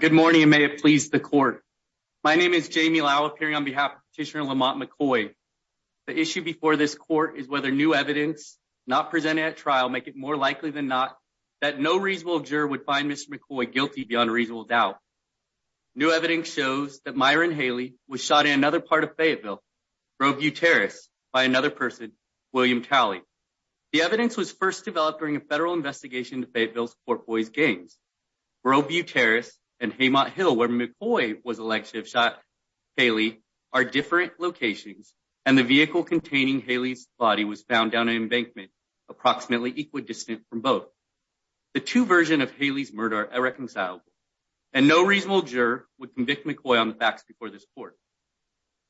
Good morning and may it please the court. My name is Jamie Lau appearing on behalf of Petitioner Lamont McKoy. The issue before this court is whether new evidence not presented at trial make it more likely than not that no reasonable juror would find Mr. McKoy guilty beyond a reasonable doubt. New evidence shows that Myron Haley was shot in another part of Fayetteville, Groveview Terrace, by another person, William Talley. The evidence was first developed during a federal investigation into Fayetteville's Fort Boys games. Groveview Terrace and Haymont Hill, where McKoy was elected, have shot Haley at different locations and the vehicle containing Haley's body was found down an embankment approximately equidistant from both. The two versions of Haley's murder are irreconcilable and no reasonable juror would convict McKoy on the facts before this court.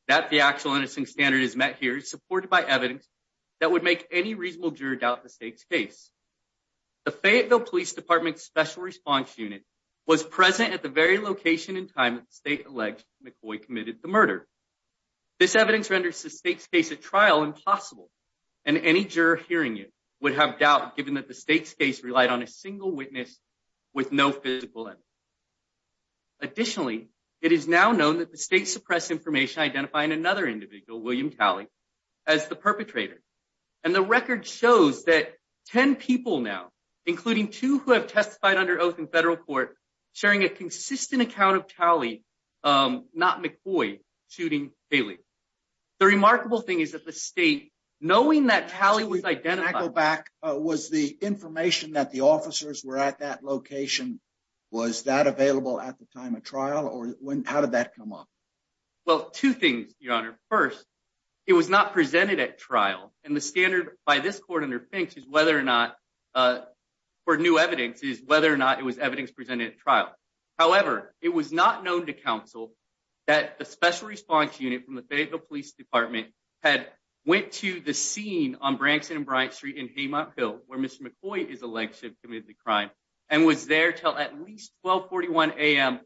That the actual innocent standard is met here is supported by evidence that would make any reasonable juror doubt the state's case. The Fayetteville Police Department's Special Response Unit was present at the very location and time that the state alleged that McKoy committed the murder. This evidence renders the state's case at trial impossible and any juror hearing it would have doubt given that the state's case relied on a single witness with no physical evidence. Additionally, it is now known that the state suppressed information identifying another individual, William Talley, as the perpetrator. And the record shows that 10 people now, including two who have testified under oath in federal court, sharing a consistent account of Talley, not McCoy, shooting Haley. The remarkable thing is that the state, knowing that Talley was identified- Can I go back? Was the information that the officers were at that location, was that available at the time of trial or when, how did that come up? Well, two things, Your Honor. First, it was not presented at trial and the standard by this court under Finch is whether or not, for new evidence, is whether or not it was evidence presented at trial. However, it was not known to counsel that the Special Response Unit from the Fayetteville Police Department had went to the scene on Branson and Bryant Street in Haymont Hill where Mr. McCoy is alleged to have committed the crime and was there till at least 1241 a.m.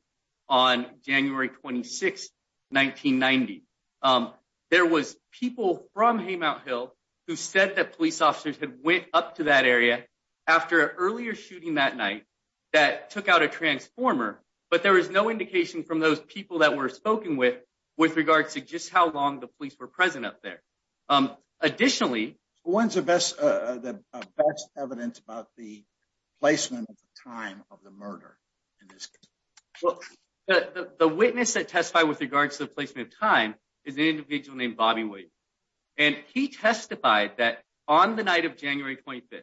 on January 26, 1990. There was people from Haymont Hill who said that police officers had went up to that area after an earlier shooting that night that took out a transformer, but there was no indication from those people that were spoken with with regards to just how long the police were present up there. Additionally- When's the best evidence about the placement of the time of the murder in this case? Well, the witness that testified with regards to the placement of time is an individual named Bobby Wade and he testified that on the night of January 25th,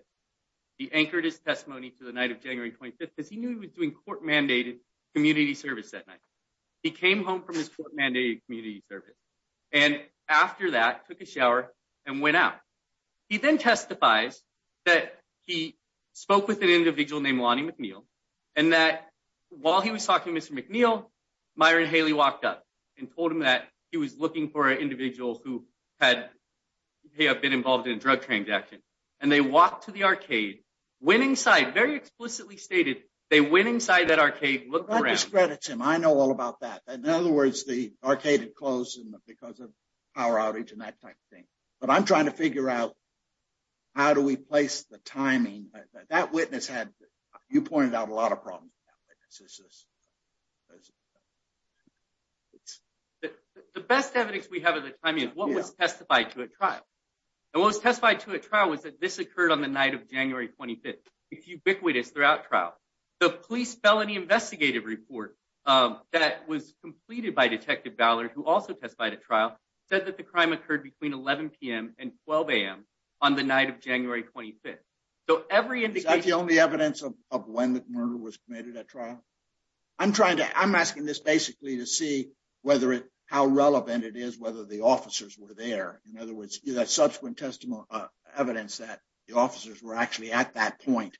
he anchored his testimony to the night of January 25th because he knew he was doing court-mandated community service that night. He came home from his court-mandated community service and after that took a shower and went out. He then testifies that he spoke with an individual named Lonnie McNeil and that while he was talking to Mr. McNeil, Myron Haley walked up and told him that he was looking for an individual who had been involved in a drug transaction and they walked to the arcade, went inside, very explicitly stated, they went inside that arcade and looked around. What discredits him? I know all about that. In other words, the arcade had closed because of power outage and that type of thing. But I'm trying to figure out how do we place the timing. That witness had, you pointed out a lot of problems with that witness. The best evidence we have of the timing is what was testified to at trial. And what was testified to at trial was that this occurred on the night of January 25th. It's ubiquitous throughout trial. The police felony investigative report that was completed by Detective Ballard, who also testified at trial, said that the crime occurred between 11 p.m. and 12 a.m. on the night of January 25th. So every indication... Is that the only evidence of when the murder was committed at trial? I'm trying to, I'm asking this basically to see whether it, how relevant it is whether the officers were there. In other words, that subsequent evidence that the officers were actually at that point.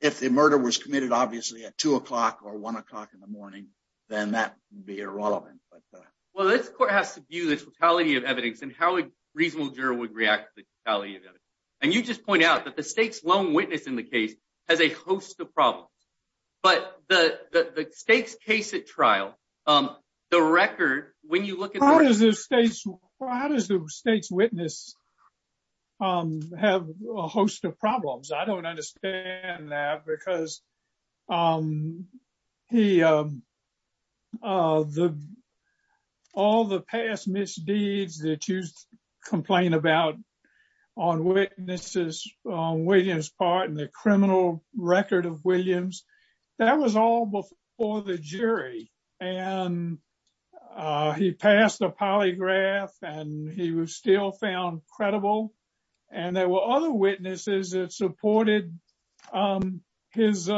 If the murder was committed, obviously, at 2 o'clock or 1 o'clock in the morning, then that would be irrelevant. Well, this court has to view the totality of evidence and how a reasonable juror would react to the totality of evidence. And you just pointed out that the state's lone witness in the case has a host of problems. But the state's case at trial, the record, when you look at... How does the state's witness have a host of problems? I don't understand that because all the past misdeeds that you complain about on witnesses, on Williams' part, and the criminal record of Williams, that was all before the jury. And he passed a polygraph and he was still found credible. And there were other witnesses that supported his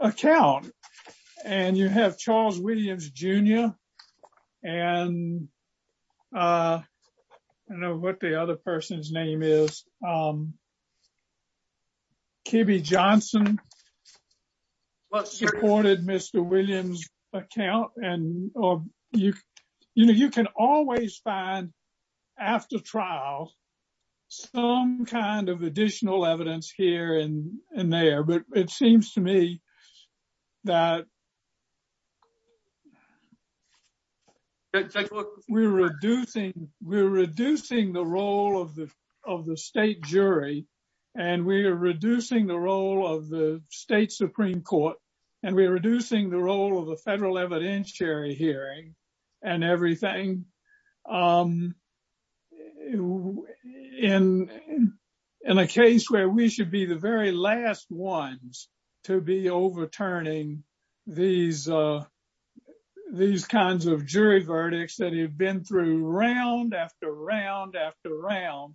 account. And you have Charles Williams Jr. And I don't know what the other person's name is. Kibby Johnson supported Mr. Williams' account. And you can always find, after trial, some kind of additional evidence here and there. But it seems to me that we're reducing the role of the state jury, and we are reducing the role of the state Supreme Court, and we are in a case where we should be the very last ones to be overturning these kinds of jury verdicts that have been through round after round after round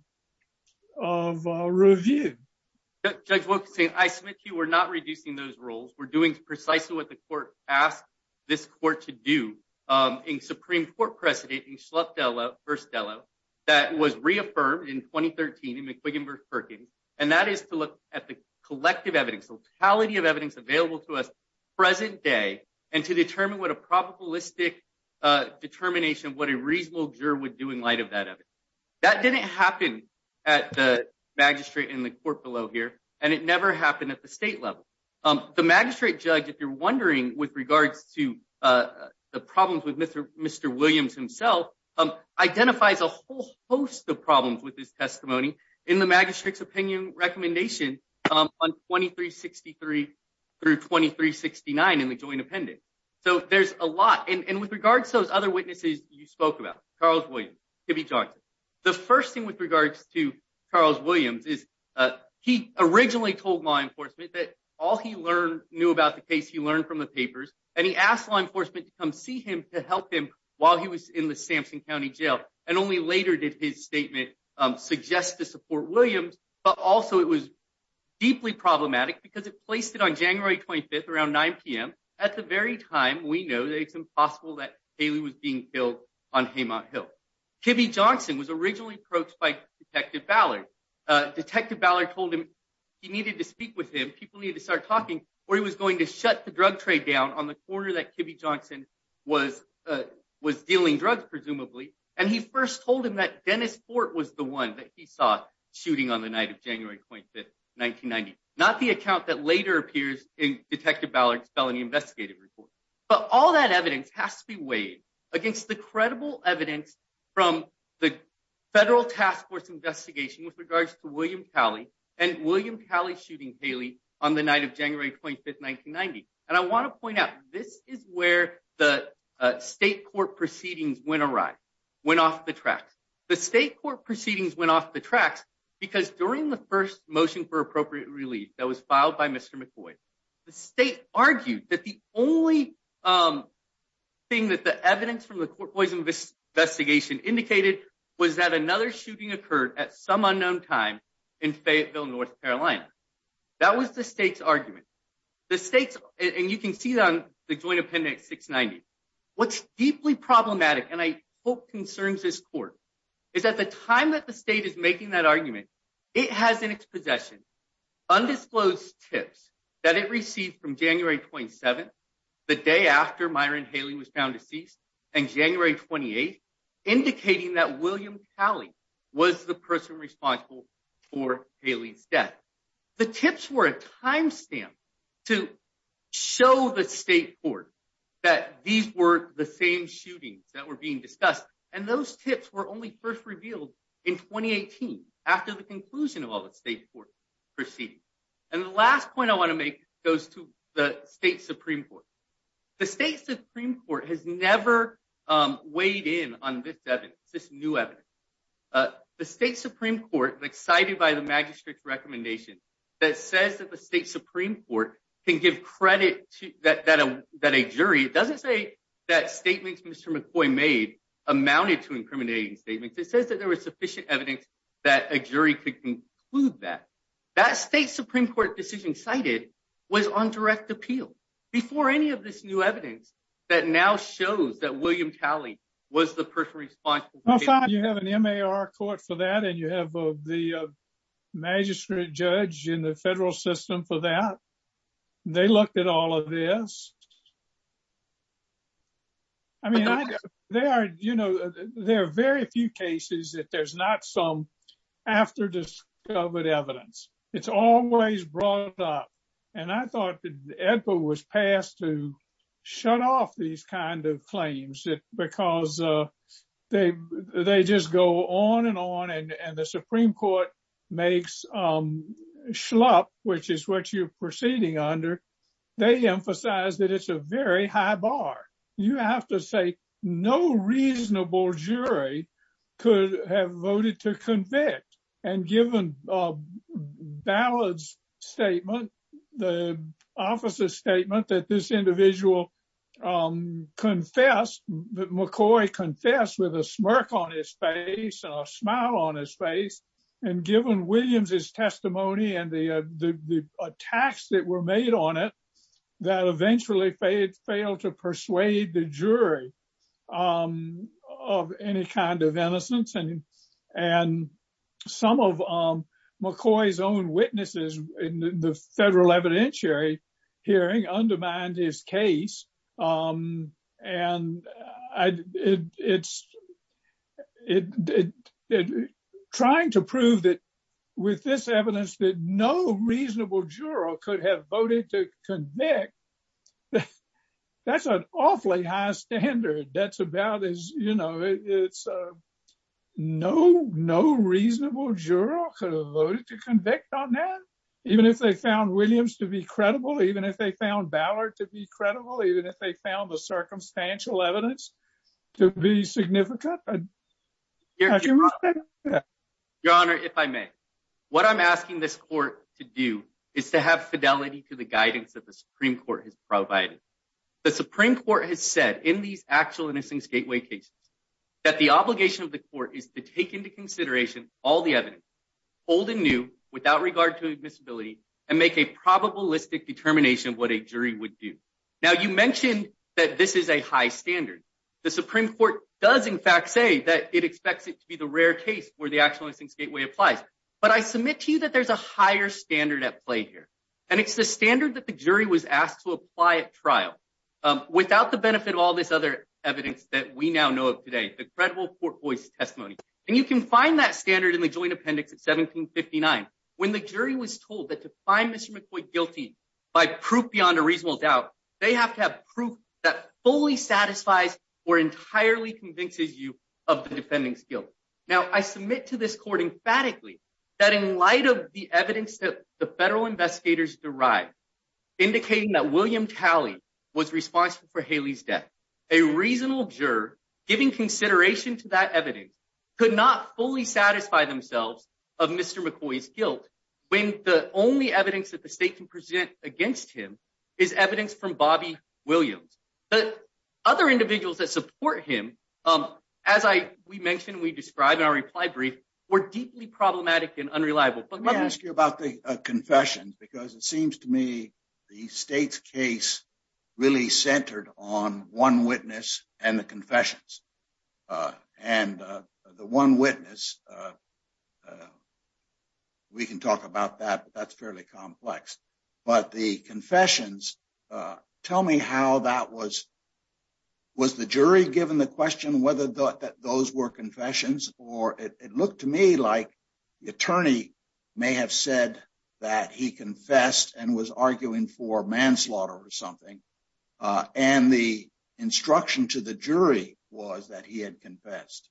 of review. Judge Wilkinson, I submit to you, we're not reducing those roles. We're doing precisely what the court asked this court to do in Supreme Court precedent in Shlup-Dello, 1st Dello, that was reaffirmed in 2013 in McQuiggin v. Perkins, and that is to look at the collective evidence, the totality of evidence available to us present day, and to determine what a probabilistic determination of what a reasonable juror would do in light of that evidence. That didn't happen at the magistrate in the court below here, and it never happened at the state level. The magistrate judge, if you're wondering, with regards to the problems with Mr. Williams himself, identifies a whole host of problems with his testimony in the magistrate's opinion recommendation on 2363 through 2369 in the joint appendix. So there's a lot. And with regards to those other witnesses you spoke about, Charles Williams, Tibby Johnson, the first thing with regards to Charles Williams is he originally told law enforcement that all he knew about the case he learned from the to help him while he was in the Sampson County Jail, and only later did his statement suggest to support Williams, but also it was deeply problematic because it placed it on January 25th around 9 p.m. at the very time we know that it's impossible that Haley was being killed on Haymont Hill. Tibby Johnson was originally approached by Detective Ballard. Detective Ballard told him he needed to speak with him, people needed to start talking, or he was going to shut the drug trade down on the corner that Tibby Johnson was dealing drugs, presumably, and he first told him that Dennis Fort was the one that he saw shooting on the night of January 25th, 1990, not the account that later appears in Detective Ballard's felony investigative report. But all that evidence has to be weighed against the credible evidence from the federal task force investigation with regards to William Calley shooting Haley on the night of January 25th, 1990. And I want to point out this is where the state court proceedings went awry, went off the tracks. The state court proceedings went off the tracks because during the first motion for appropriate relief that was filed by Mr. McVoy, the state argued that the only thing that the evidence from the court poison investigation indicated was that another shooting occurred at some unknown time in Fayetteville, North Carolina. That was the state's argument. The state's, and you can see that on the joint appendix 690. What's deeply problematic, and I hope concerns this court, is at the time that the state is making that argument, it has in its possession undisclosed tips that it received from January 27th, the day after Myron Haley was found deceased, and January 28th, indicating that William Calley was the person responsible for Haley's death. The tips were a time stamp to show the state court that these were the same shootings that were being discussed. And those tips were only first revealed in 2018 after the conclusion of all the state court proceedings. And the last point I want to make goes to the state Supreme Court. The state Supreme Court has never weighed in on this evidence, this new evidence. The state Supreme Court, cited by the magistrate's recommendation, that says that the state Supreme Court can give credit that a jury, it doesn't say that statements Mr. McVoy made amounted to incriminating statements. It says that there was sufficient evidence that a jury could conclude that. That state Supreme Court decision cited was on direct appeal. Before any of this new evidence that now shows that William Calley was the person responsible for Haley's death. You have an MAR court for that, and you have the magistrate judge in the federal system for that. They looked at all of this. I mean, there are, you know, there are very few cases that there's not some after discovered evidence. It's always brought up. And I thought that Edward was passed to shut off these kind of claims because they just go on and on. And the Supreme Court makes schlop, which is what you're proceeding under. They emphasize that it's a very high bar. You have to say no reasonable jury could have voted to convict. And given Ballard's statement, the officer's statement that this individual confessed, McCoy confessed with a smirk on his face and a smile on his face. And given Williams's testimony and the attacks that were made on it, that eventually failed to persuade the jury of any kind of innocence. And some of McCoy's own witnesses in the federal evidentiary hearing undermined his case. And it's trying to prove that with this evidence, that no reasonable juror could have voted to convict. That's an awfully high standard. That's about as, you know, it's no, no reasonable juror could have voted to convict on that. Even if they found Williams to be credible, even if they found Ballard to be credible, even if they found the circumstantial evidence to be significant. Your Honor, if I may, what I'm asking this court to do is to have fidelity to the guidance that the Supreme Court has provided. The Supreme Court has said in these actual innocence gateway cases that the obligation of the court is to take into consideration all the evidence old and new without regard to admissibility and make a probabilistic determination of what a jury would do. Now you mentioned that this is a high standard. The Supreme Court does in fact say that it expects it to be the rare case where the actual innocence gateway applies. But I submit to you that there's a higher standard at play here. And it's the standard that the jury was asked to apply at trial without the benefit of all this other evidence that we now know of today, the credible court voice testimony. And you can find that standard in the joint appendix at 1759. When the jury was told that to find Mr. McCoy guilty by proof beyond a reasonable doubt, they have to have proof that fully satisfies or entirely convinces you of the defendant's guilt. Now I submit to this court emphatically that in light of the evidence that the federal investigators derived, indicating that William Talley was responsible for Haley's death, a reasonable juror giving consideration to that evidence could not fully satisfy themselves of Mr. McCoy's guilt when the only evidence that the state can present against him is evidence from Bobby Williams. But other individuals that support him, as we mentioned, we described in our reply brief, were deeply problematic and unreliable. Let me ask you about the confession, because it seems to me the state's case really centered on one witness and the confessions. And the one witness, we can talk about that, but that's fairly complex. But the confessions, tell me how that was, was the jury given the question whether those were confessions? Or it looked to me like the attorney may have said that he confessed and was arguing for manslaughter or something. And the instruction to the jury was that he had confessed,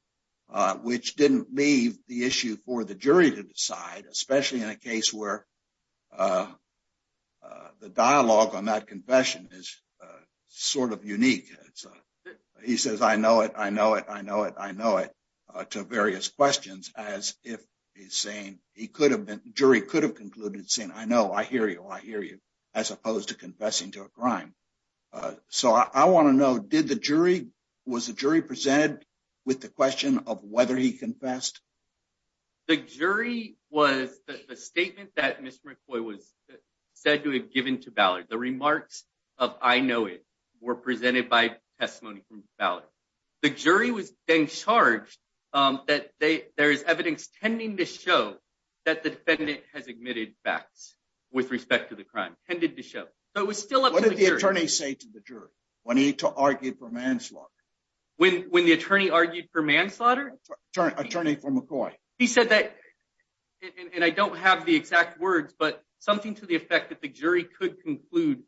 which didn't leave the issue for the jury to decide, especially in a case where the dialogue on that confession is sort of unique. He says, I know it, I know it, I know it, I know it, to various questions, as if he's saying he could have been, jury could have concluded saying, I know, I hear you, I hear you, as opposed to confessing to a crime. So I want to know, did the jury, was the jury presented with the question of whether he confessed? The jury was the statement that Mr. McCoy was said to have given to Ballard. The remarks of I know it were presented by testimony from Ballard. The jury was then charged that there is evidence tending to show that the defendant has admitted facts with respect to the crime, tended to show. So it was still up to the jury. What did the attorney say to the jury when he argued for manslaughter? When the attorney argued for manslaughter? Attorney for McCoy. He said that, and I don't have the exact words, but something to the effect that the jury could conclude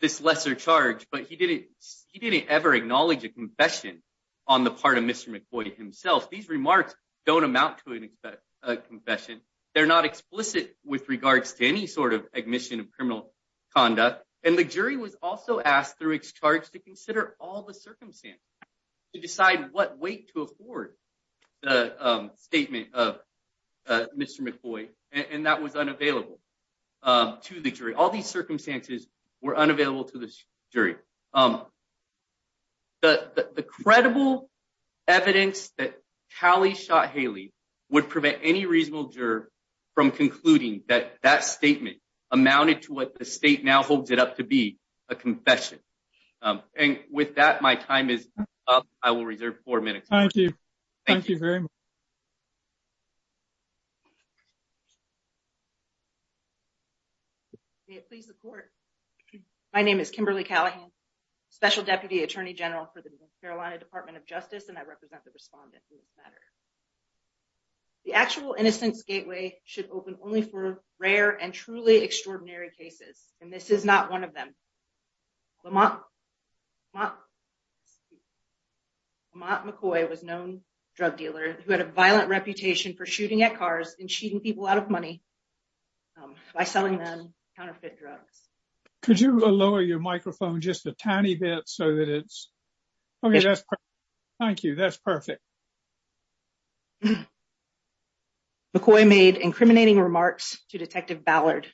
this lesser charge, but he didn't ever acknowledge a confession on the part of Mr. McCoy himself. These remarks don't amount to a confession. They're not explicit with regards to any sort of admission of criminal conduct. And the jury was also asked through its charge to consider all the circumstances to decide what weight to afford the statement of Mr. McCoy. And that was unavailable to the jury. All these circumstances were unavailable to the jury. The credible evidence that Callie shot Haley would prevent any reasonable juror from concluding that that statement amounted to what the state now holds it up to be a confession. And with that, my time is up. I will reserve four minutes. Thank you. Thank you very much. May it please the court. My name is Kimberly Callahan, Special Deputy Attorney General for the North Carolina Department of Justice, and I represent the respondent in this matter. The actual innocence gateway should open only for rare and truly extraordinary cases, and this is not one of them. Lamont McCoy was a known drug dealer who had a violent reputation for shooting at cars and cheating people out of money by selling them counterfeit drugs. Could you lower your microphone just a tiny bit so that it's okay. Thank you. That's perfect. McCoy made incriminating remarks to Detective Ballard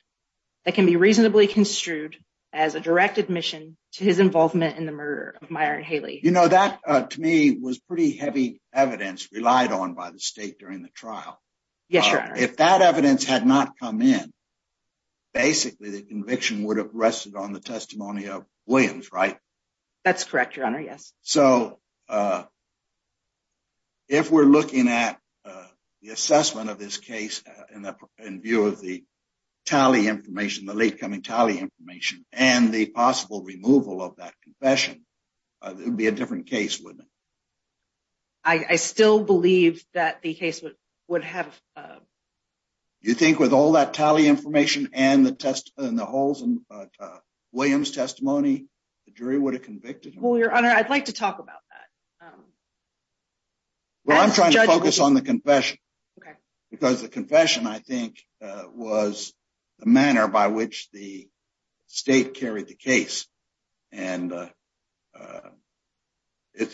that can be reasonably construed as a direct admission to his involvement in the murder of Myron Haley. You know, that to me was pretty heavy evidence relied on by the state during the trial. Yes. If that evidence had not come in. Basically, the conviction would have rested on the testimony of Williams, right? That's correct, Your Honor. Yes. So if we're looking at the assessment of this case in view of the tally information, the late testimony of Williams and the testimony of Haley, it would be a different case, wouldn't it? I still believe that the case would have. You think with all that tally information and the test and the holes and Williams testimony, the jury would have convicted? Well, Your Honor, I'd like to talk about that. Well, I'm trying to focus on the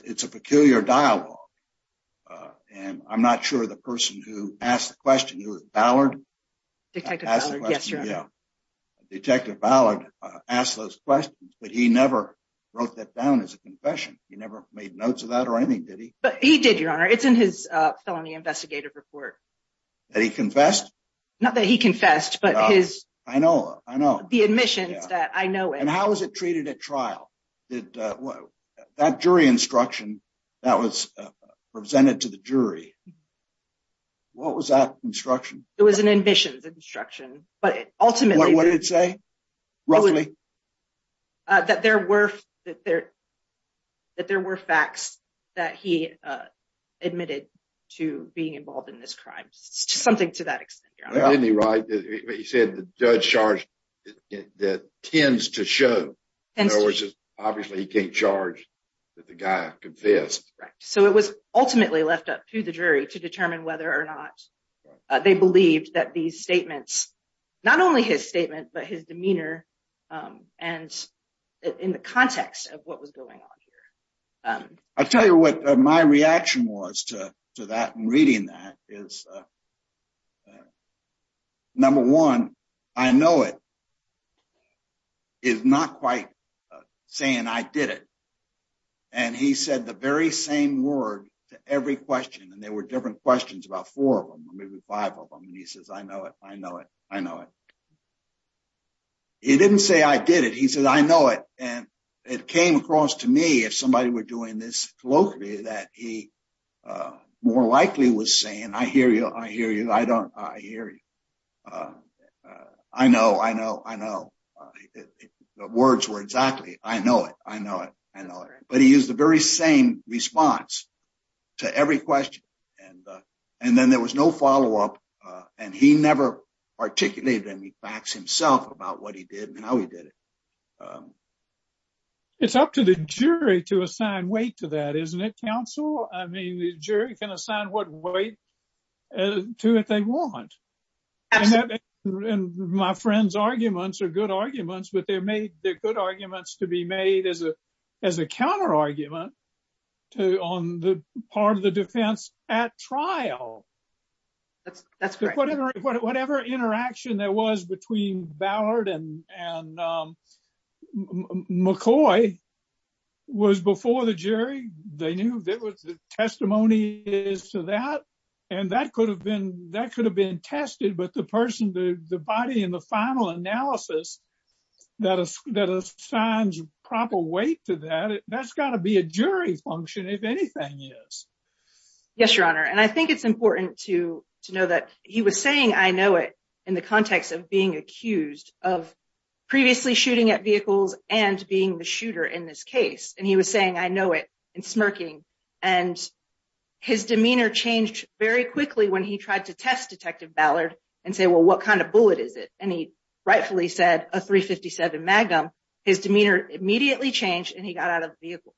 it's a peculiar dialogue, and I'm not sure the person who asked the question, who was Ballard. Detective Ballard. Yes, Your Honor. Detective Ballard asked those questions, but he never wrote that down as a confession. He never made notes of that or anything, did he? But he did, Your Honor. It's in his felony investigative report. That he confessed? Not that he confessed, but his. I know, I know. The admissions that I know. And how was it treated at trial? That jury instruction that was presented to the jury. What was that instruction? It was an admissions instruction, but ultimately. What did it say? Roughly? That there were facts that he admitted to being involved in this crime. Something to that extent, Your Honor. He said the judge charged that tends to show. In other words, obviously he can't charge that the guy confessed. So it was ultimately left up to the jury to determine whether or not they believed that these statements, not only his statement, but his demeanor and in the context of what was going on here. I'll tell you what my reaction was to that and reading that is. Number one, I know it. Is not quite saying I did it. And he said the very same word to every question, and there were different questions about four of them. Maybe five of them. And he says, I know it. I know it. I know it. He didn't say I did it. He said, I know it. And it came across to me if somebody were doing this locally that he more likely was saying, I hear you. I hear you. I don't. I hear you. I know. I know. I know the words were exactly. I know it. I know it. I know it. But he used the very same response to every question. And then there was no follow up. And he never articulated any facts himself about what he did and how he did it. It's up to the jury to assign weight to that, isn't it, counsel? I mean, the jury can assign what weight to it they want. And my friend's arguments are good arguments, but they're good arguments to be made as a as a counter argument to on the part of the defense at trial. That's that's whatever whatever interaction there was between Ballard and McCoy was before the jury. They knew that was the testimony is to that. And that could have been that could have been tested. But the person to the weight to that, that's got to be a jury function, if anything is. Yes, your honor. And I think it's important to to know that he was saying, I know it in the context of being accused of previously shooting at vehicles and being the shooter in this case. And he was saying, I know it and smirking. And his demeanor changed very quickly when he tried to test Detective Ballard and say, well, what kind of bullet is it? And he rightfully said a three fifty seven magnum. His demeanor immediately changed and he got out of the vehicle.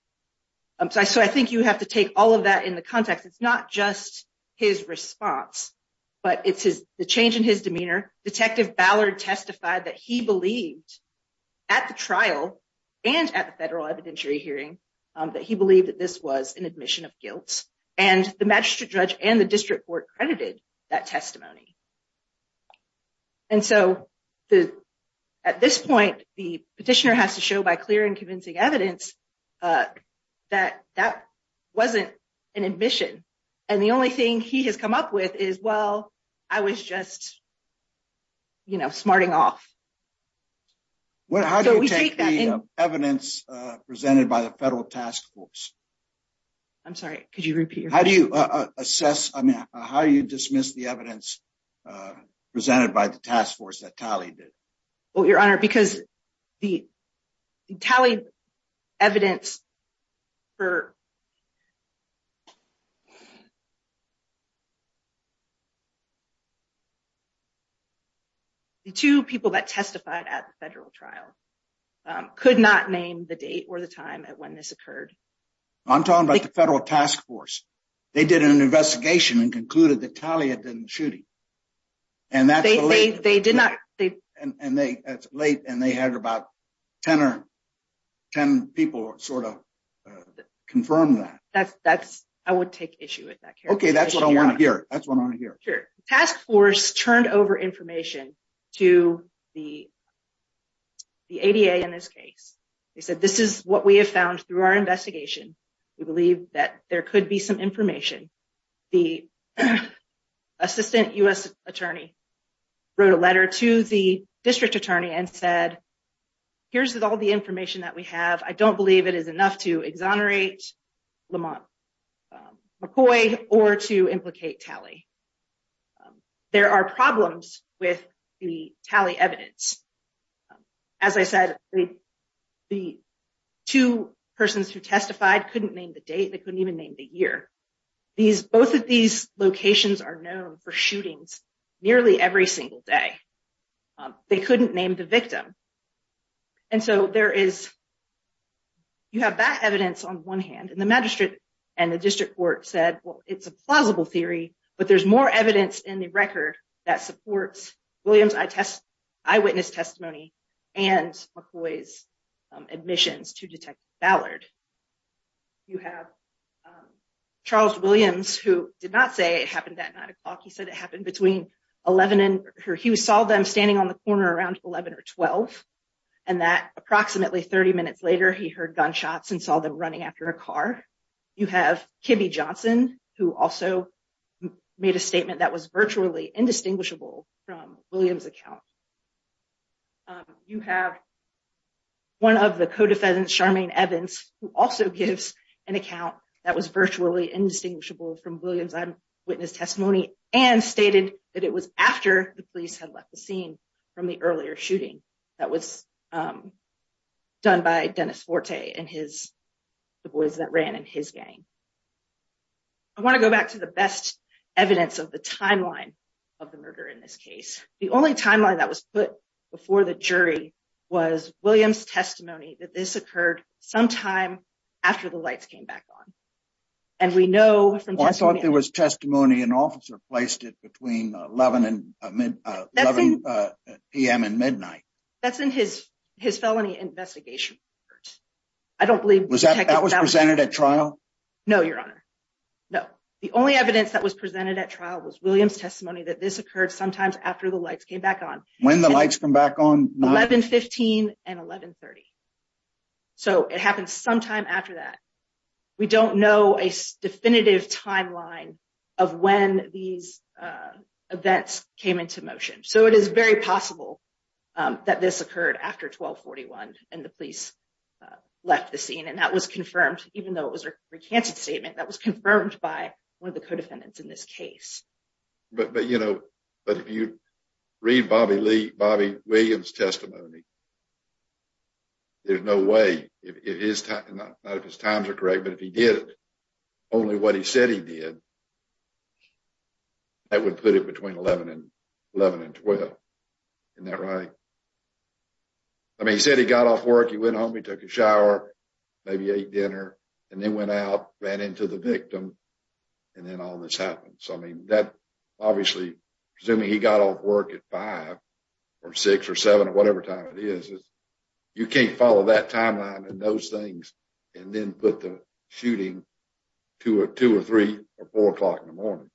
So I think you have to take all of that in the context. It's not just his response, but it's the change in his demeanor. Detective Ballard testified that he believed at the trial and at the federal evidentiary hearing that he believed that this was an admission of guilt. And the magistrate judge and the district court credited that testimony. And so the at this point, the petitioner has to show by clear and convincing evidence that that wasn't an admission. And the only thing he has come up with is, well, I was just, you know, smarting off. Well, how do we take that evidence presented by the federal task force? I'm sorry, could you repeat? How do you assess? I mean, how you dismiss the evidence presented by the task force that tallied it? Well, your honor, because the tallied evidence for. Two people that testified at the federal trial could not name the date or the time at when this occurred. I'm talking about the federal task force. They did an investigation and concluded that Talia didn't shoot him. And that's the way they did not. And they late and they had about ten or ten people sort of confirm that that's I would take issue with that. OK, that's what I want to hear. That's what I want to hear. Sure. Task force turned over information to the ADA in this case. They said this is what we have found through our investigation. We believe that there could be some information. The assistant U.S. Attorney wrote a letter to the district attorney and said, here's all the information that we have. I don't believe it is enough to exonerate McCoy or to implicate Talia. There are problems with the Talia evidence. As I said, the two persons who testified couldn't name the date. They couldn't name the time of the shooting. They couldn't name the victim. And so there is you have that evidence on one hand. And the magistrate and the district court said, well, it's a plausible theory, but there's more evidence in the record that supports Williams eyewitness testimony and McCoy's admissions to detect Ballard. You have Charles Williams, who did not say it happened at 9 o'clock. He said it happened between 11 and he saw them standing on the corner around 11 or 12. And that approximately 30 minutes later, he heard gunshots and saw them running after a car. You have Kimby Johnson, who also made a statement that was virtually indistinguishable from Williams account. You have. One of the co-defendants, Charmaine Evans, who also gives an account that was virtually indistinguishable from Williams eyewitness testimony and stated that it was after the police had left the scene from the earlier shooting that was done by Dennis Forte and his boys that ran in his gang. I want to go back to the best evidence of the timeline of the murder in this case. The only timeline that was put before the jury was Williams testimony that this occurred sometime after the lights came back on. And we know from I thought there was testimony and officer placed it between 11 and 11 p.m. and midnight. That's in his his felony investigation. I don't believe that was presented at trial. No, Your Honor. No. The only evidence that was presented at trial was Williams testimony that this occurred sometimes after the lights came back on when the lights come back on 1115 and 1130. So it happened sometime after that. We don't know a definitive timeline of when these events came into motion. So it is very possible that this was confirmed even though it was a recanted statement that was confirmed by one of the co defendants in this case. But you know, but if you read Bobby Lee, Bobby Williams testimony, there's no way it is. Not if his times are correct, but if he did only what he said he did, that would put it between 11 and 11 and 12. Isn't that right? I mean, he said he got off work. He went home. He took a shower, maybe ate dinner and then went out, ran into the victim. And then all this happened. So I mean that obviously assuming he got off work at five or six or seven or whatever time it is, you can't follow that timeline and those things and then put the shooting to a two or three or four o'clock in the morning.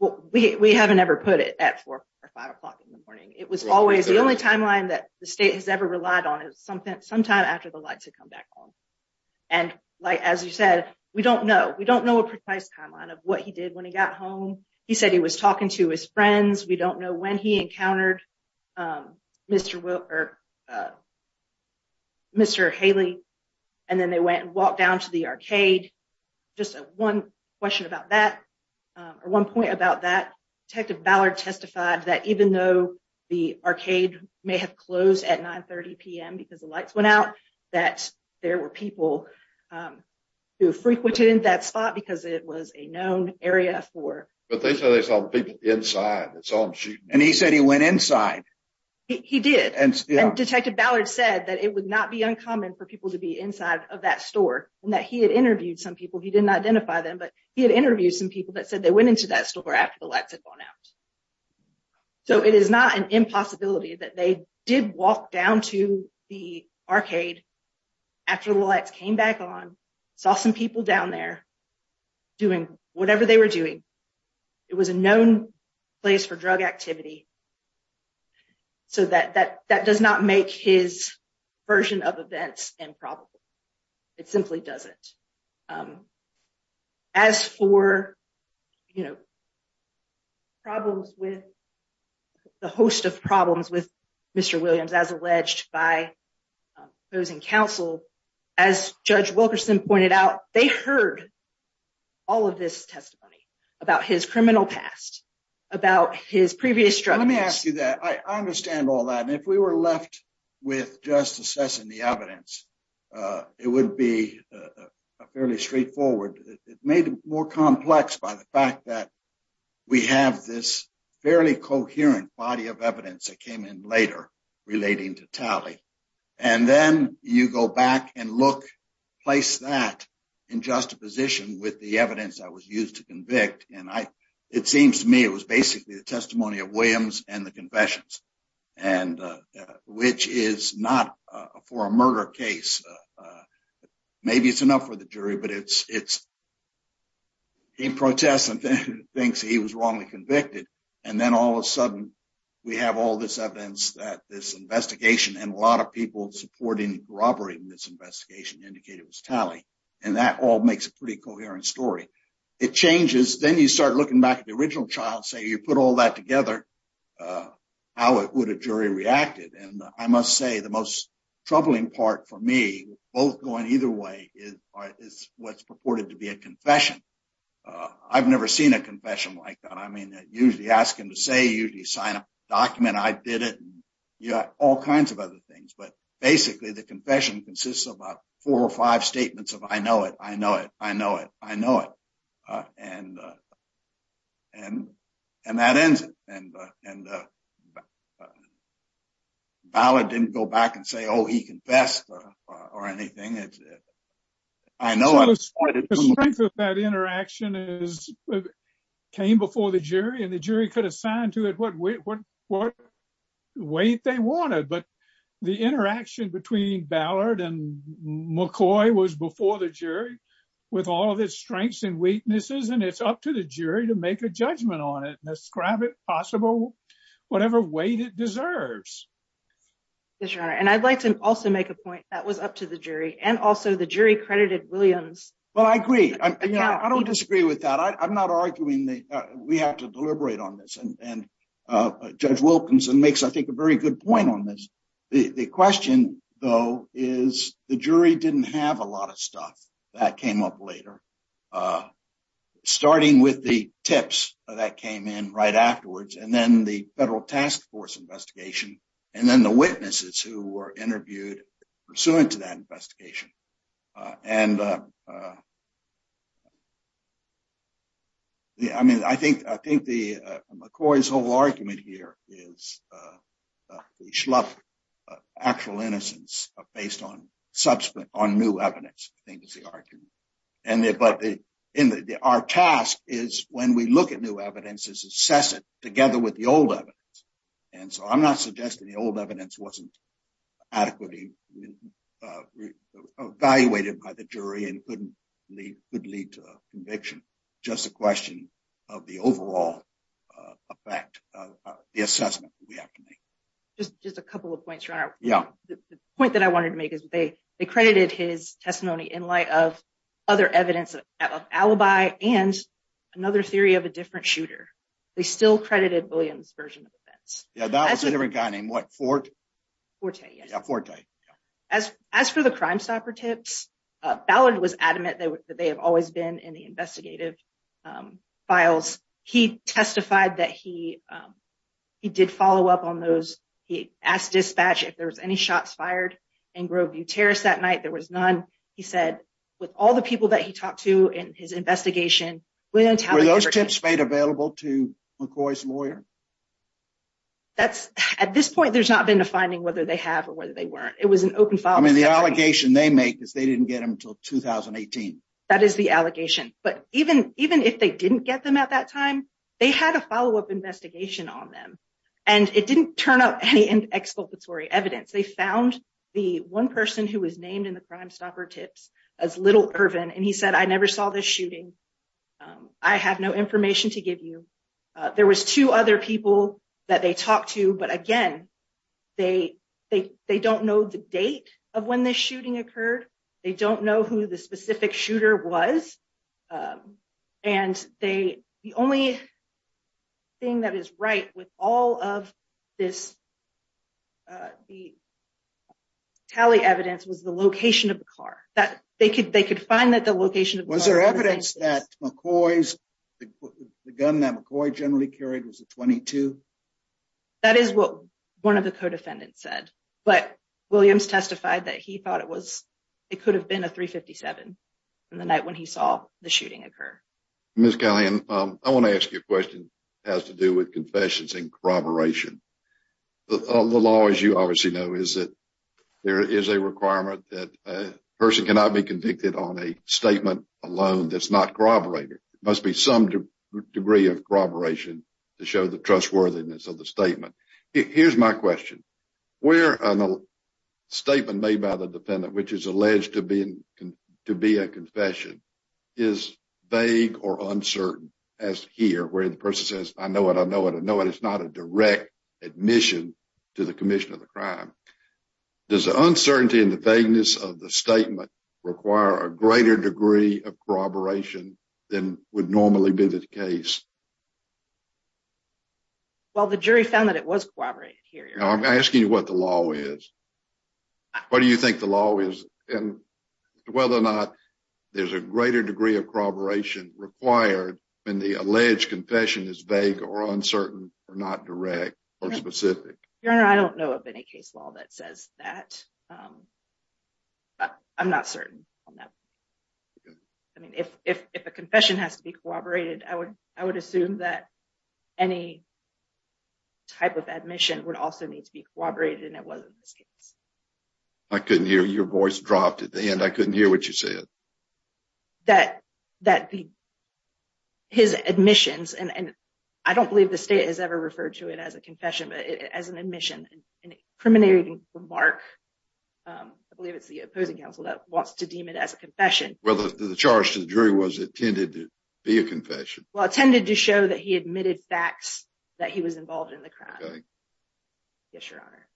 Well, we haven't ever put it at four or five o'clock in the morning. It was always the only timeline that the state has ever relied on is something sometime after the lights had come back on. And like, as you said, we don't know. We don't know a precise timeline of what he did when he got home. He said he was talking to his friends. We don't know when he encountered Mr. Will or Mr. Haley. And then they went and walked down to the arcade. Just one question about that or one point about that. Detective Ballard testified that even though the arcade may have closed at 930 p.m. because the lights went out, that there were people who frequented that spot because it was a known area for. But they said they saw people inside. And he said he went inside. He did. And Detective Ballard said that it would not be uncommon for people to be inside of that store and that he had interviewed some people. He didn't identify them, but he had interviewed some people that said they went into that store after the lights had gone out. So it is not an impossibility that they did walk down to the arcade after the lights came back on, saw some people down there doing whatever they were doing. It was a known place for drug activity. So that does not make his version of events improbable. It simply doesn't. As for problems with the host of problems with Mr. Williams, as alleged by opposing counsel, as Judge Wilkerson pointed out, they heard all of this testimony about his criminal past, about his previous drug use. Let me ask you that. I understand all that. And if we were left with just assessing the evidence, it would be fairly straightforward. It may be more complex by the fact that we have this fairly coherent body of evidence that came in later relating to Talley. And then you go back and look, place that in juxtaposition with the evidence that was used to convict. And it seems to me it was basically the testimony of Williams and the confessions, which is not for a murder case. Maybe it's enough for the jury, but it's he protests and thinks he was wrongly convicted. And then all of a sudden we have all this evidence that this investigation and a lot of people supporting the robbery in this investigation indicated it was Talley. And that all makes a pretty coherent story. It changes. Then you start looking back at the original trial and say, you put all that together, how would a jury react? And I must say the most I've never seen a confession like that. I mean, usually ask him to say you sign a document. I did it. You got all kinds of other things. But basically the confession consists of about four or five statements of I know it. I know it. I know it. I know it. And that ends it. And Ballard didn't go back and say, oh, he confessed or anything. I know it was that interaction is came before the jury and the jury could assign to it what weight they wanted. But the interaction between Ballard and McCoy was before the jury with all of its strengths and weaknesses. And it's up to the jury to make a judgment on it and ascribe it possible whatever weight it deserves. And I'd like to also make a point that was up to the jury and also the jury credited Williams. Well, I agree. I don't disagree with that. I'm not arguing that we have to deliberate on this. And Judge Wilkinson makes, I think, a very good point on this. The question, though, is the jury didn't have a lot of stuff that came up later, starting with the tips that came in right afterwards and then the federal task force investigation and then the witnesses who were interviewed pursuant to that investigation. And I mean, I think I think the McCoy's whole argument here is the actual innocence based on subsequent on new evidence. And our task is when we look at new evidence is assess it together with the old evidence. And so I'm not suggesting the old evidence wasn't adequately evaluated by the jury and couldn't lead to conviction. Just a question of the overall effect of the assessment we have to make. Just a couple of points. Yeah. The point that I wanted to make is they they credited his testimony in light of other evidence of alibi and another theory of a different shooter. They still credited Williams version of events. That was a different guy named Fort Forte. Forte. As as for the Crimestopper tips, Ballard was adamant that they have always been in the he did follow up on those. He asked dispatch if there was any shots fired in Groveview Terrace that night. There was none, he said, with all the people that he talked to in his investigation. Were those tips made available to McCoy's lawyer? That's at this point, there's not been a finding whether they have or whether they weren't. It was an open file. I mean, the allegation they make is they didn't get him till 2018. That is the allegation. But even even if they didn't get them at that time, they had a follow up investigation on them and it didn't turn up any in exculpatory evidence. They found the one person who was named in the Crimestopper tips as little urban. And he said, I never saw this shooting. I have no information to give you. There was two other people that they talked to. But again, they they they don't know the date of when this shooting occurred. They don't know who the specific shooter was. And they the only thing that is right with all of this. The tally evidence was the location of the car that they could they could find that the location of was there evidence that McCoy's the gun that McCoy generally carried was a 22. That is what one of the co-defendants said. But Williams testified that he thought it was it could have been a 357 in the night when he saw the shooting occur. Miss Kelly and I want to ask you a question has to do with confessions and corroboration. The law, as you obviously know, is that there is a requirement that a person cannot be convicted on a statement alone. That's not corroborated. It must be some degree of corroboration to show the trustworthiness of the statement. Here's my question. Where a little statement made by the defendant, which is alleged to be to be a confession, is vague or uncertain as here where the person says, I know what I know what I know. And it's not a direct admission to the commission of the crime. Does the uncertainty and the vagueness of the statement require a greater degree of corroboration than would normally be the case? Well, the jury found that it was corroborated here. I'm asking you what the law is. What do you think the law is and whether or not there's a greater degree of corroboration required when the alleged confession is vague or uncertain or not direct or specific? Your Honor, I don't know of any case law that says that. I'm not certain on that. I mean, if a confession has to be corroborated, I would assume that any type of admission would also need to be corroborated and it wasn't this case. I couldn't hear your voice dropped at the end. I couldn't hear what you said. That his admissions and I don't believe the state has ever referred to it as a confession, but as an admission and incriminating remark. I believe it's the opposing counsel that wants to deem it as a confession. Well, the charge to the jury was it tended to be a confession? Well, it tended to show that he admitted facts that he was involved in the crime. Yes, Your Honor.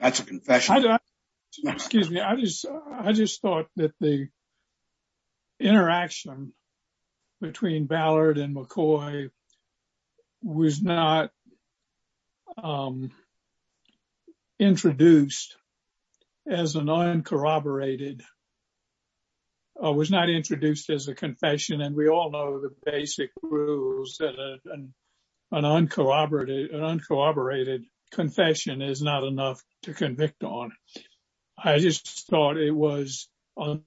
That's a confession. Excuse me. I just thought that the interaction between Ballard and McCoy was not introduced as a non corroborated was not introduced as a confession and we all know the basic rules and an uncorroborated confession is not enough to convict on. I just thought it was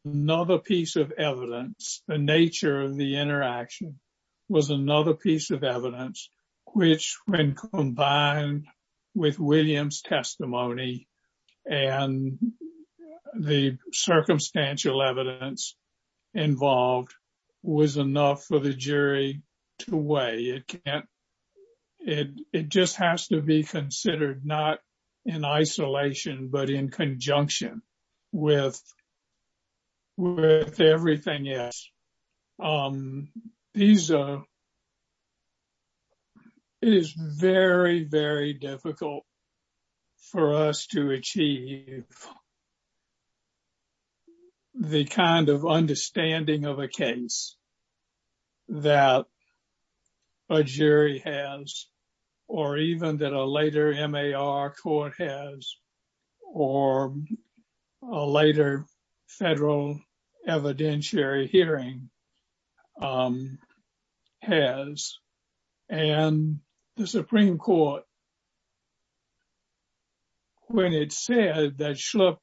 another piece of evidence. The nature of the interaction was another piece of evidence, which when combined with Williams testimony and the circumstantial evidence involved was enough for the jury to weigh. It just has to be considered not in isolation, but in conjunction with everything else. These are very, very difficult for us to achieve the kind of understanding of a case that a jury has or even that a later M.A.R. court has or a later federal evidentiary hearing has and the Supreme Court, when it said that Schlupp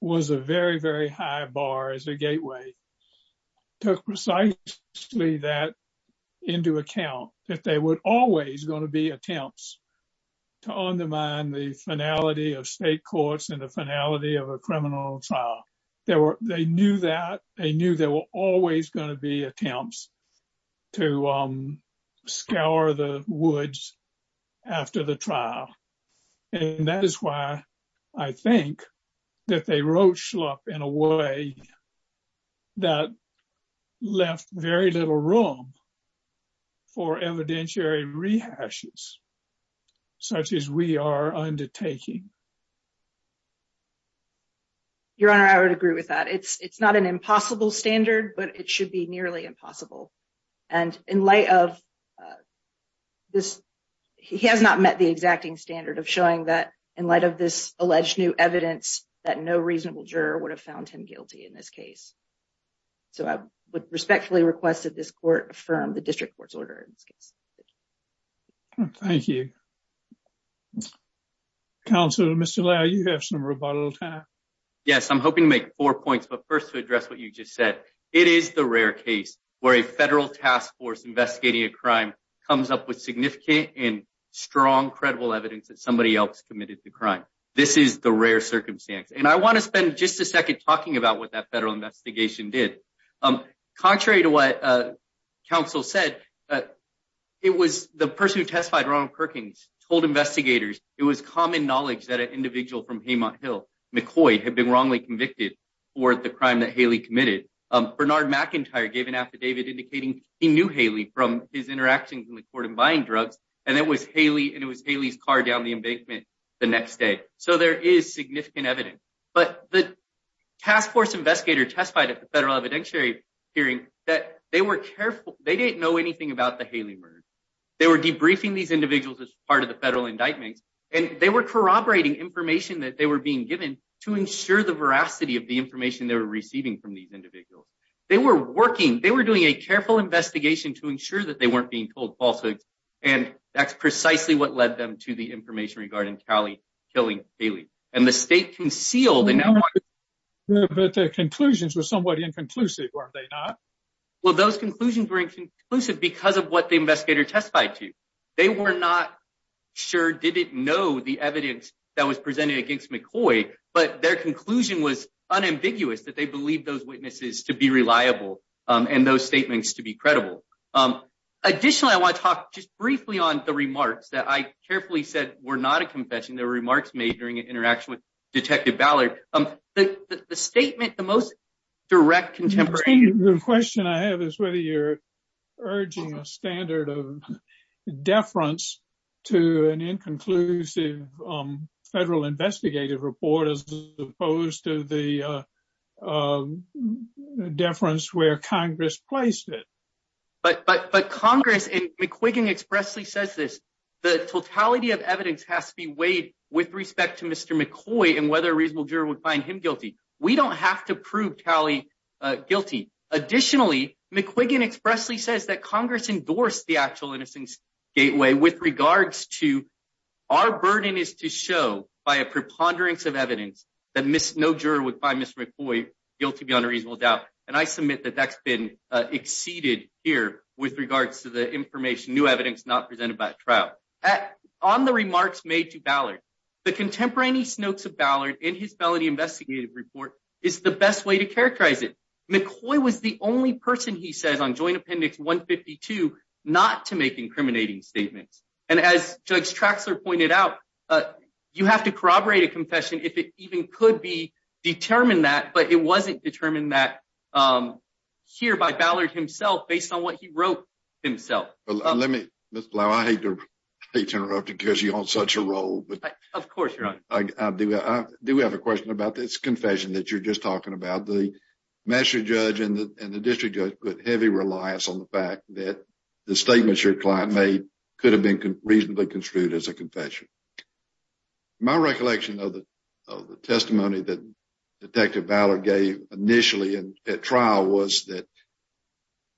was a very, very high bar as a gateway, took precisely that into account that they would always going to be attempts to undermine the court's in the finality of a criminal trial. They knew that there were always going to be attempts to scour the woods after the trial. And that is why I think that they wrote Schlupp in a way that left very little room for evidentiary rehashes such as we are undertaking. Your Honor, I would agree with that. It's not an impossible standard, but it should be nearly impossible. And in light of this, he has not met the exacting standard of showing that in light of this alleged new evidence that no reasonable juror would have found him guilty in this case. So I would respectfully request that this court affirm the district court's order in this case. Thank you. Counselor, Mr. Lauer, you have some rebuttal time. Yes, I'm hoping to make four points, but first to address what you just said. It is the rare case where a federal task force investigating a crime comes up with significant and strong, credible evidence that somebody else committed the crime. This is the rare circumstance. And I want to spend just a second talking about what that federal investigation did. Contrary to what counsel said, it was the person who testified, Ronald Perkins, told investigators it was common knowledge that an individual from Haymont Hill, McCoy, had been wrongly convicted for the crime that Haley committed. Bernard McIntyre gave an affidavit indicating he knew Haley from his interactions in the court and buying drugs. And it was Haley and it was Haley's car down the embankment the next day. So there is significant evidence. But the task force investigator testified at the federal evidentiary hearing that they were careful. They didn't know anything about the Haley murder. They were debriefing these individuals as part of the federal indictments and they were corroborating information that they were being given to ensure the veracity of the information they were receiving from these falsehoods. And that's precisely what led them to the information regarding Kali killing Haley. And the state concealed. But their conclusions were somewhat inconclusive, weren't they not? Well, those conclusions were inconclusive because of what the investigator testified to. They were not sure, didn't know the evidence that was presented against McCoy. But their conclusion was unambiguous, that they believed those witnesses to be reliable and those statements to be credible. Additionally, I want to talk just briefly on the remarks that I carefully said were not a confession. There were remarks made during an interaction with Detective Ballard. The statement, the most direct contemporary question I have is whether you're urging a standard of deference to an inconclusive federal investigative report as opposed to the deference where Congress placed it. But Congress and McQuiggan expressly says this. The totality of evidence has to be weighed with respect to Mr. McCoy and whether a reasonable juror would find him guilty. We don't have to prove Kali guilty. Additionally, McQuiggan expressly says that Congress endorsed the actual innocence gateway with regards to our burden is to show by a preponderance of evidence that no juror would find Mr. McCoy guilty beyond a reasonable doubt. And I submit that that's been exceeded here with regards to the information, new evidence not presented by a trial. On the remarks made to Ballard, the contemporaneous notes of Ballard in his felony investigative report is the best way to characterize it. McCoy was the only person, he says, on Joint Appendix 152 not to make incriminating statements. And as Judge Traxler pointed out, you have to corroborate a confession if it even could be determined that, but it wasn't determined that here by Ballard himself based on what he wrote himself. Let me, Ms. Blough, I hate to interrupt you because you're on such a roll. Of course, Your Honor. I do have a question about this confession that you're just talking about. The master judge and the district judge put heavy reliance on the fact that the statements your client made could have been reasonably construed as a confession. My recollection of the testimony that Detective Ballard gave initially at trial was that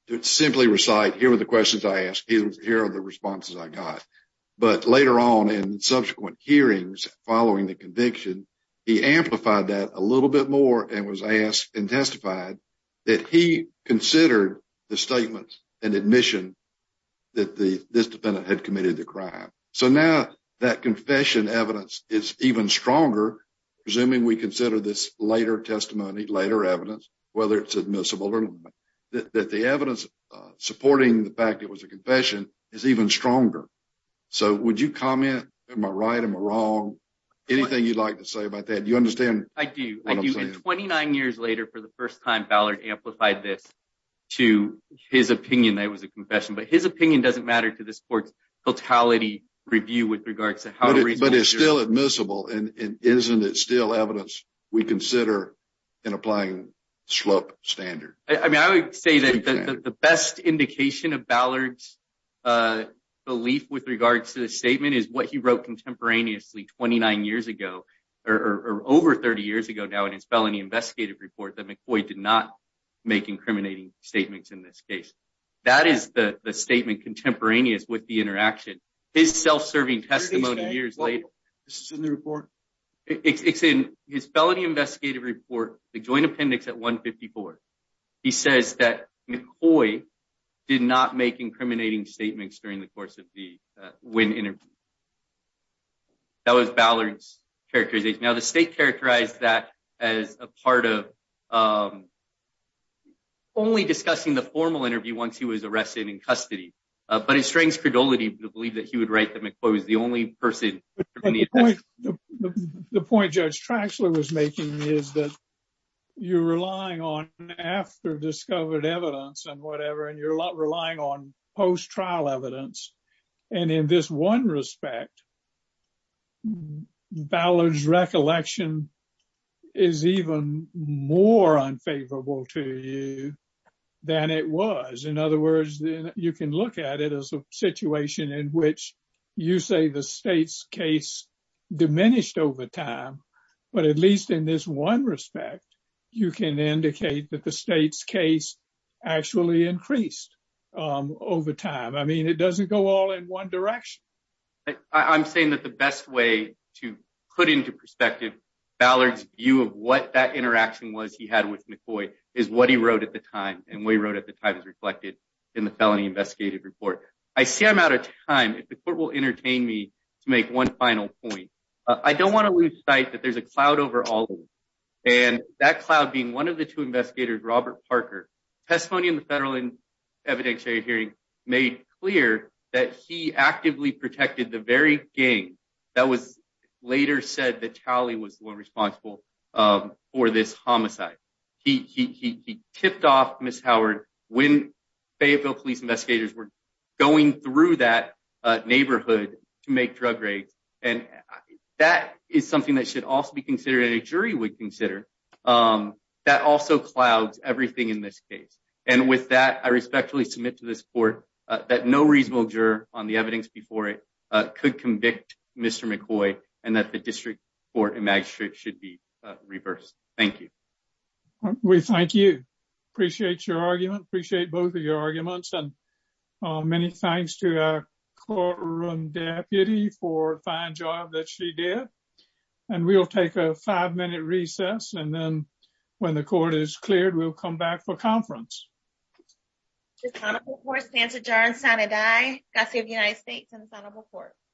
to simply recite, here were the questions I asked, here are the responses I got. But later on in subsequent hearings following the conviction, he amplified that a little bit more and was asked and testified that he considered the statements and admission that this defendant had committed the crime. So now that confession evidence is even stronger, presuming we consider this later testimony, later evidence, whether it's admissible or not, that the evidence supporting the fact it was a confession is even stronger. So would you comment, am I right, am I wrong? Anything you'd like to say about that? Do you understand what I'm saying? I do. And 29 years later for the first time Ballard amplified this to his opinion that it was a confession. But his opinion doesn't matter to this court's totality review with regards to how reasonable it is. But it's still admissible. And isn't it still evidence we consider in applying slope standard? I mean, I would say that the best indication of Ballard's belief with regards to the statement is what he wrote contemporaneously 29 years ago or over 30 years ago now in his felony investigative report that McCoy did not make incriminating statements in this case. That is the statement contemporaneous with the interaction, his self-serving testimony years later. This is in the report? It's in his felony investigative report, the joint appendix at 154. He says that McCoy did not make incriminating statements during the course of the Wynn interview. That was Ballard's characterization. Now, the state characterized that as a part of only discussing the formal interview once he was arrested in custody. But it strengthens credulity to believe that he would write that McCoy was the only person. The point Judge Traxler was making is that you're relying on after discovered evidence and whatever, and you're relying on post trial evidence. And in this one respect, Ballard's view is more unfavorable to you than it was. In other words, you can look at it as a situation in which you say the state's case diminished over time. But at least in this one respect, you can indicate that the state's case actually increased over time. I mean, it doesn't go all in one direction. I'm saying that the best way to put into perspective Ballard's view of what that interaction was he had with McCoy is what he wrote at the time and what he wrote at the time is reflected in the felony investigative report. I see I'm out of time. If the court will entertain me to make one final point, I don't want to lose sight that there's a cloud over all of us. And that cloud being one of the two investigators, Robert Parker. Testimony in the federal evidentiary hearing made clear that he actively protected the very gang that was later said that Tali was the one responsible for this homicide. He tipped off Miss Howard when Fayetteville police investigators were going through that neighborhood to make drug raids. And that is something that should also be considered and a jury would consider. That also clouds everything in this case. And with that, I respectfully submit to this court that no reasonable juror on the evidence before it could convict Mr. McCoy and that the district court and magistrate should be reversed. Thank you. We thank you. Appreciate your argument. Appreciate both of your arguments and many thanks to our courtroom deputy for a fine job that she did. And we'll take a five minute recess. And then when the court is cleared, we'll come back for conference. Just kind of more stance adjourned. Santa die. That's the United States in front of a court.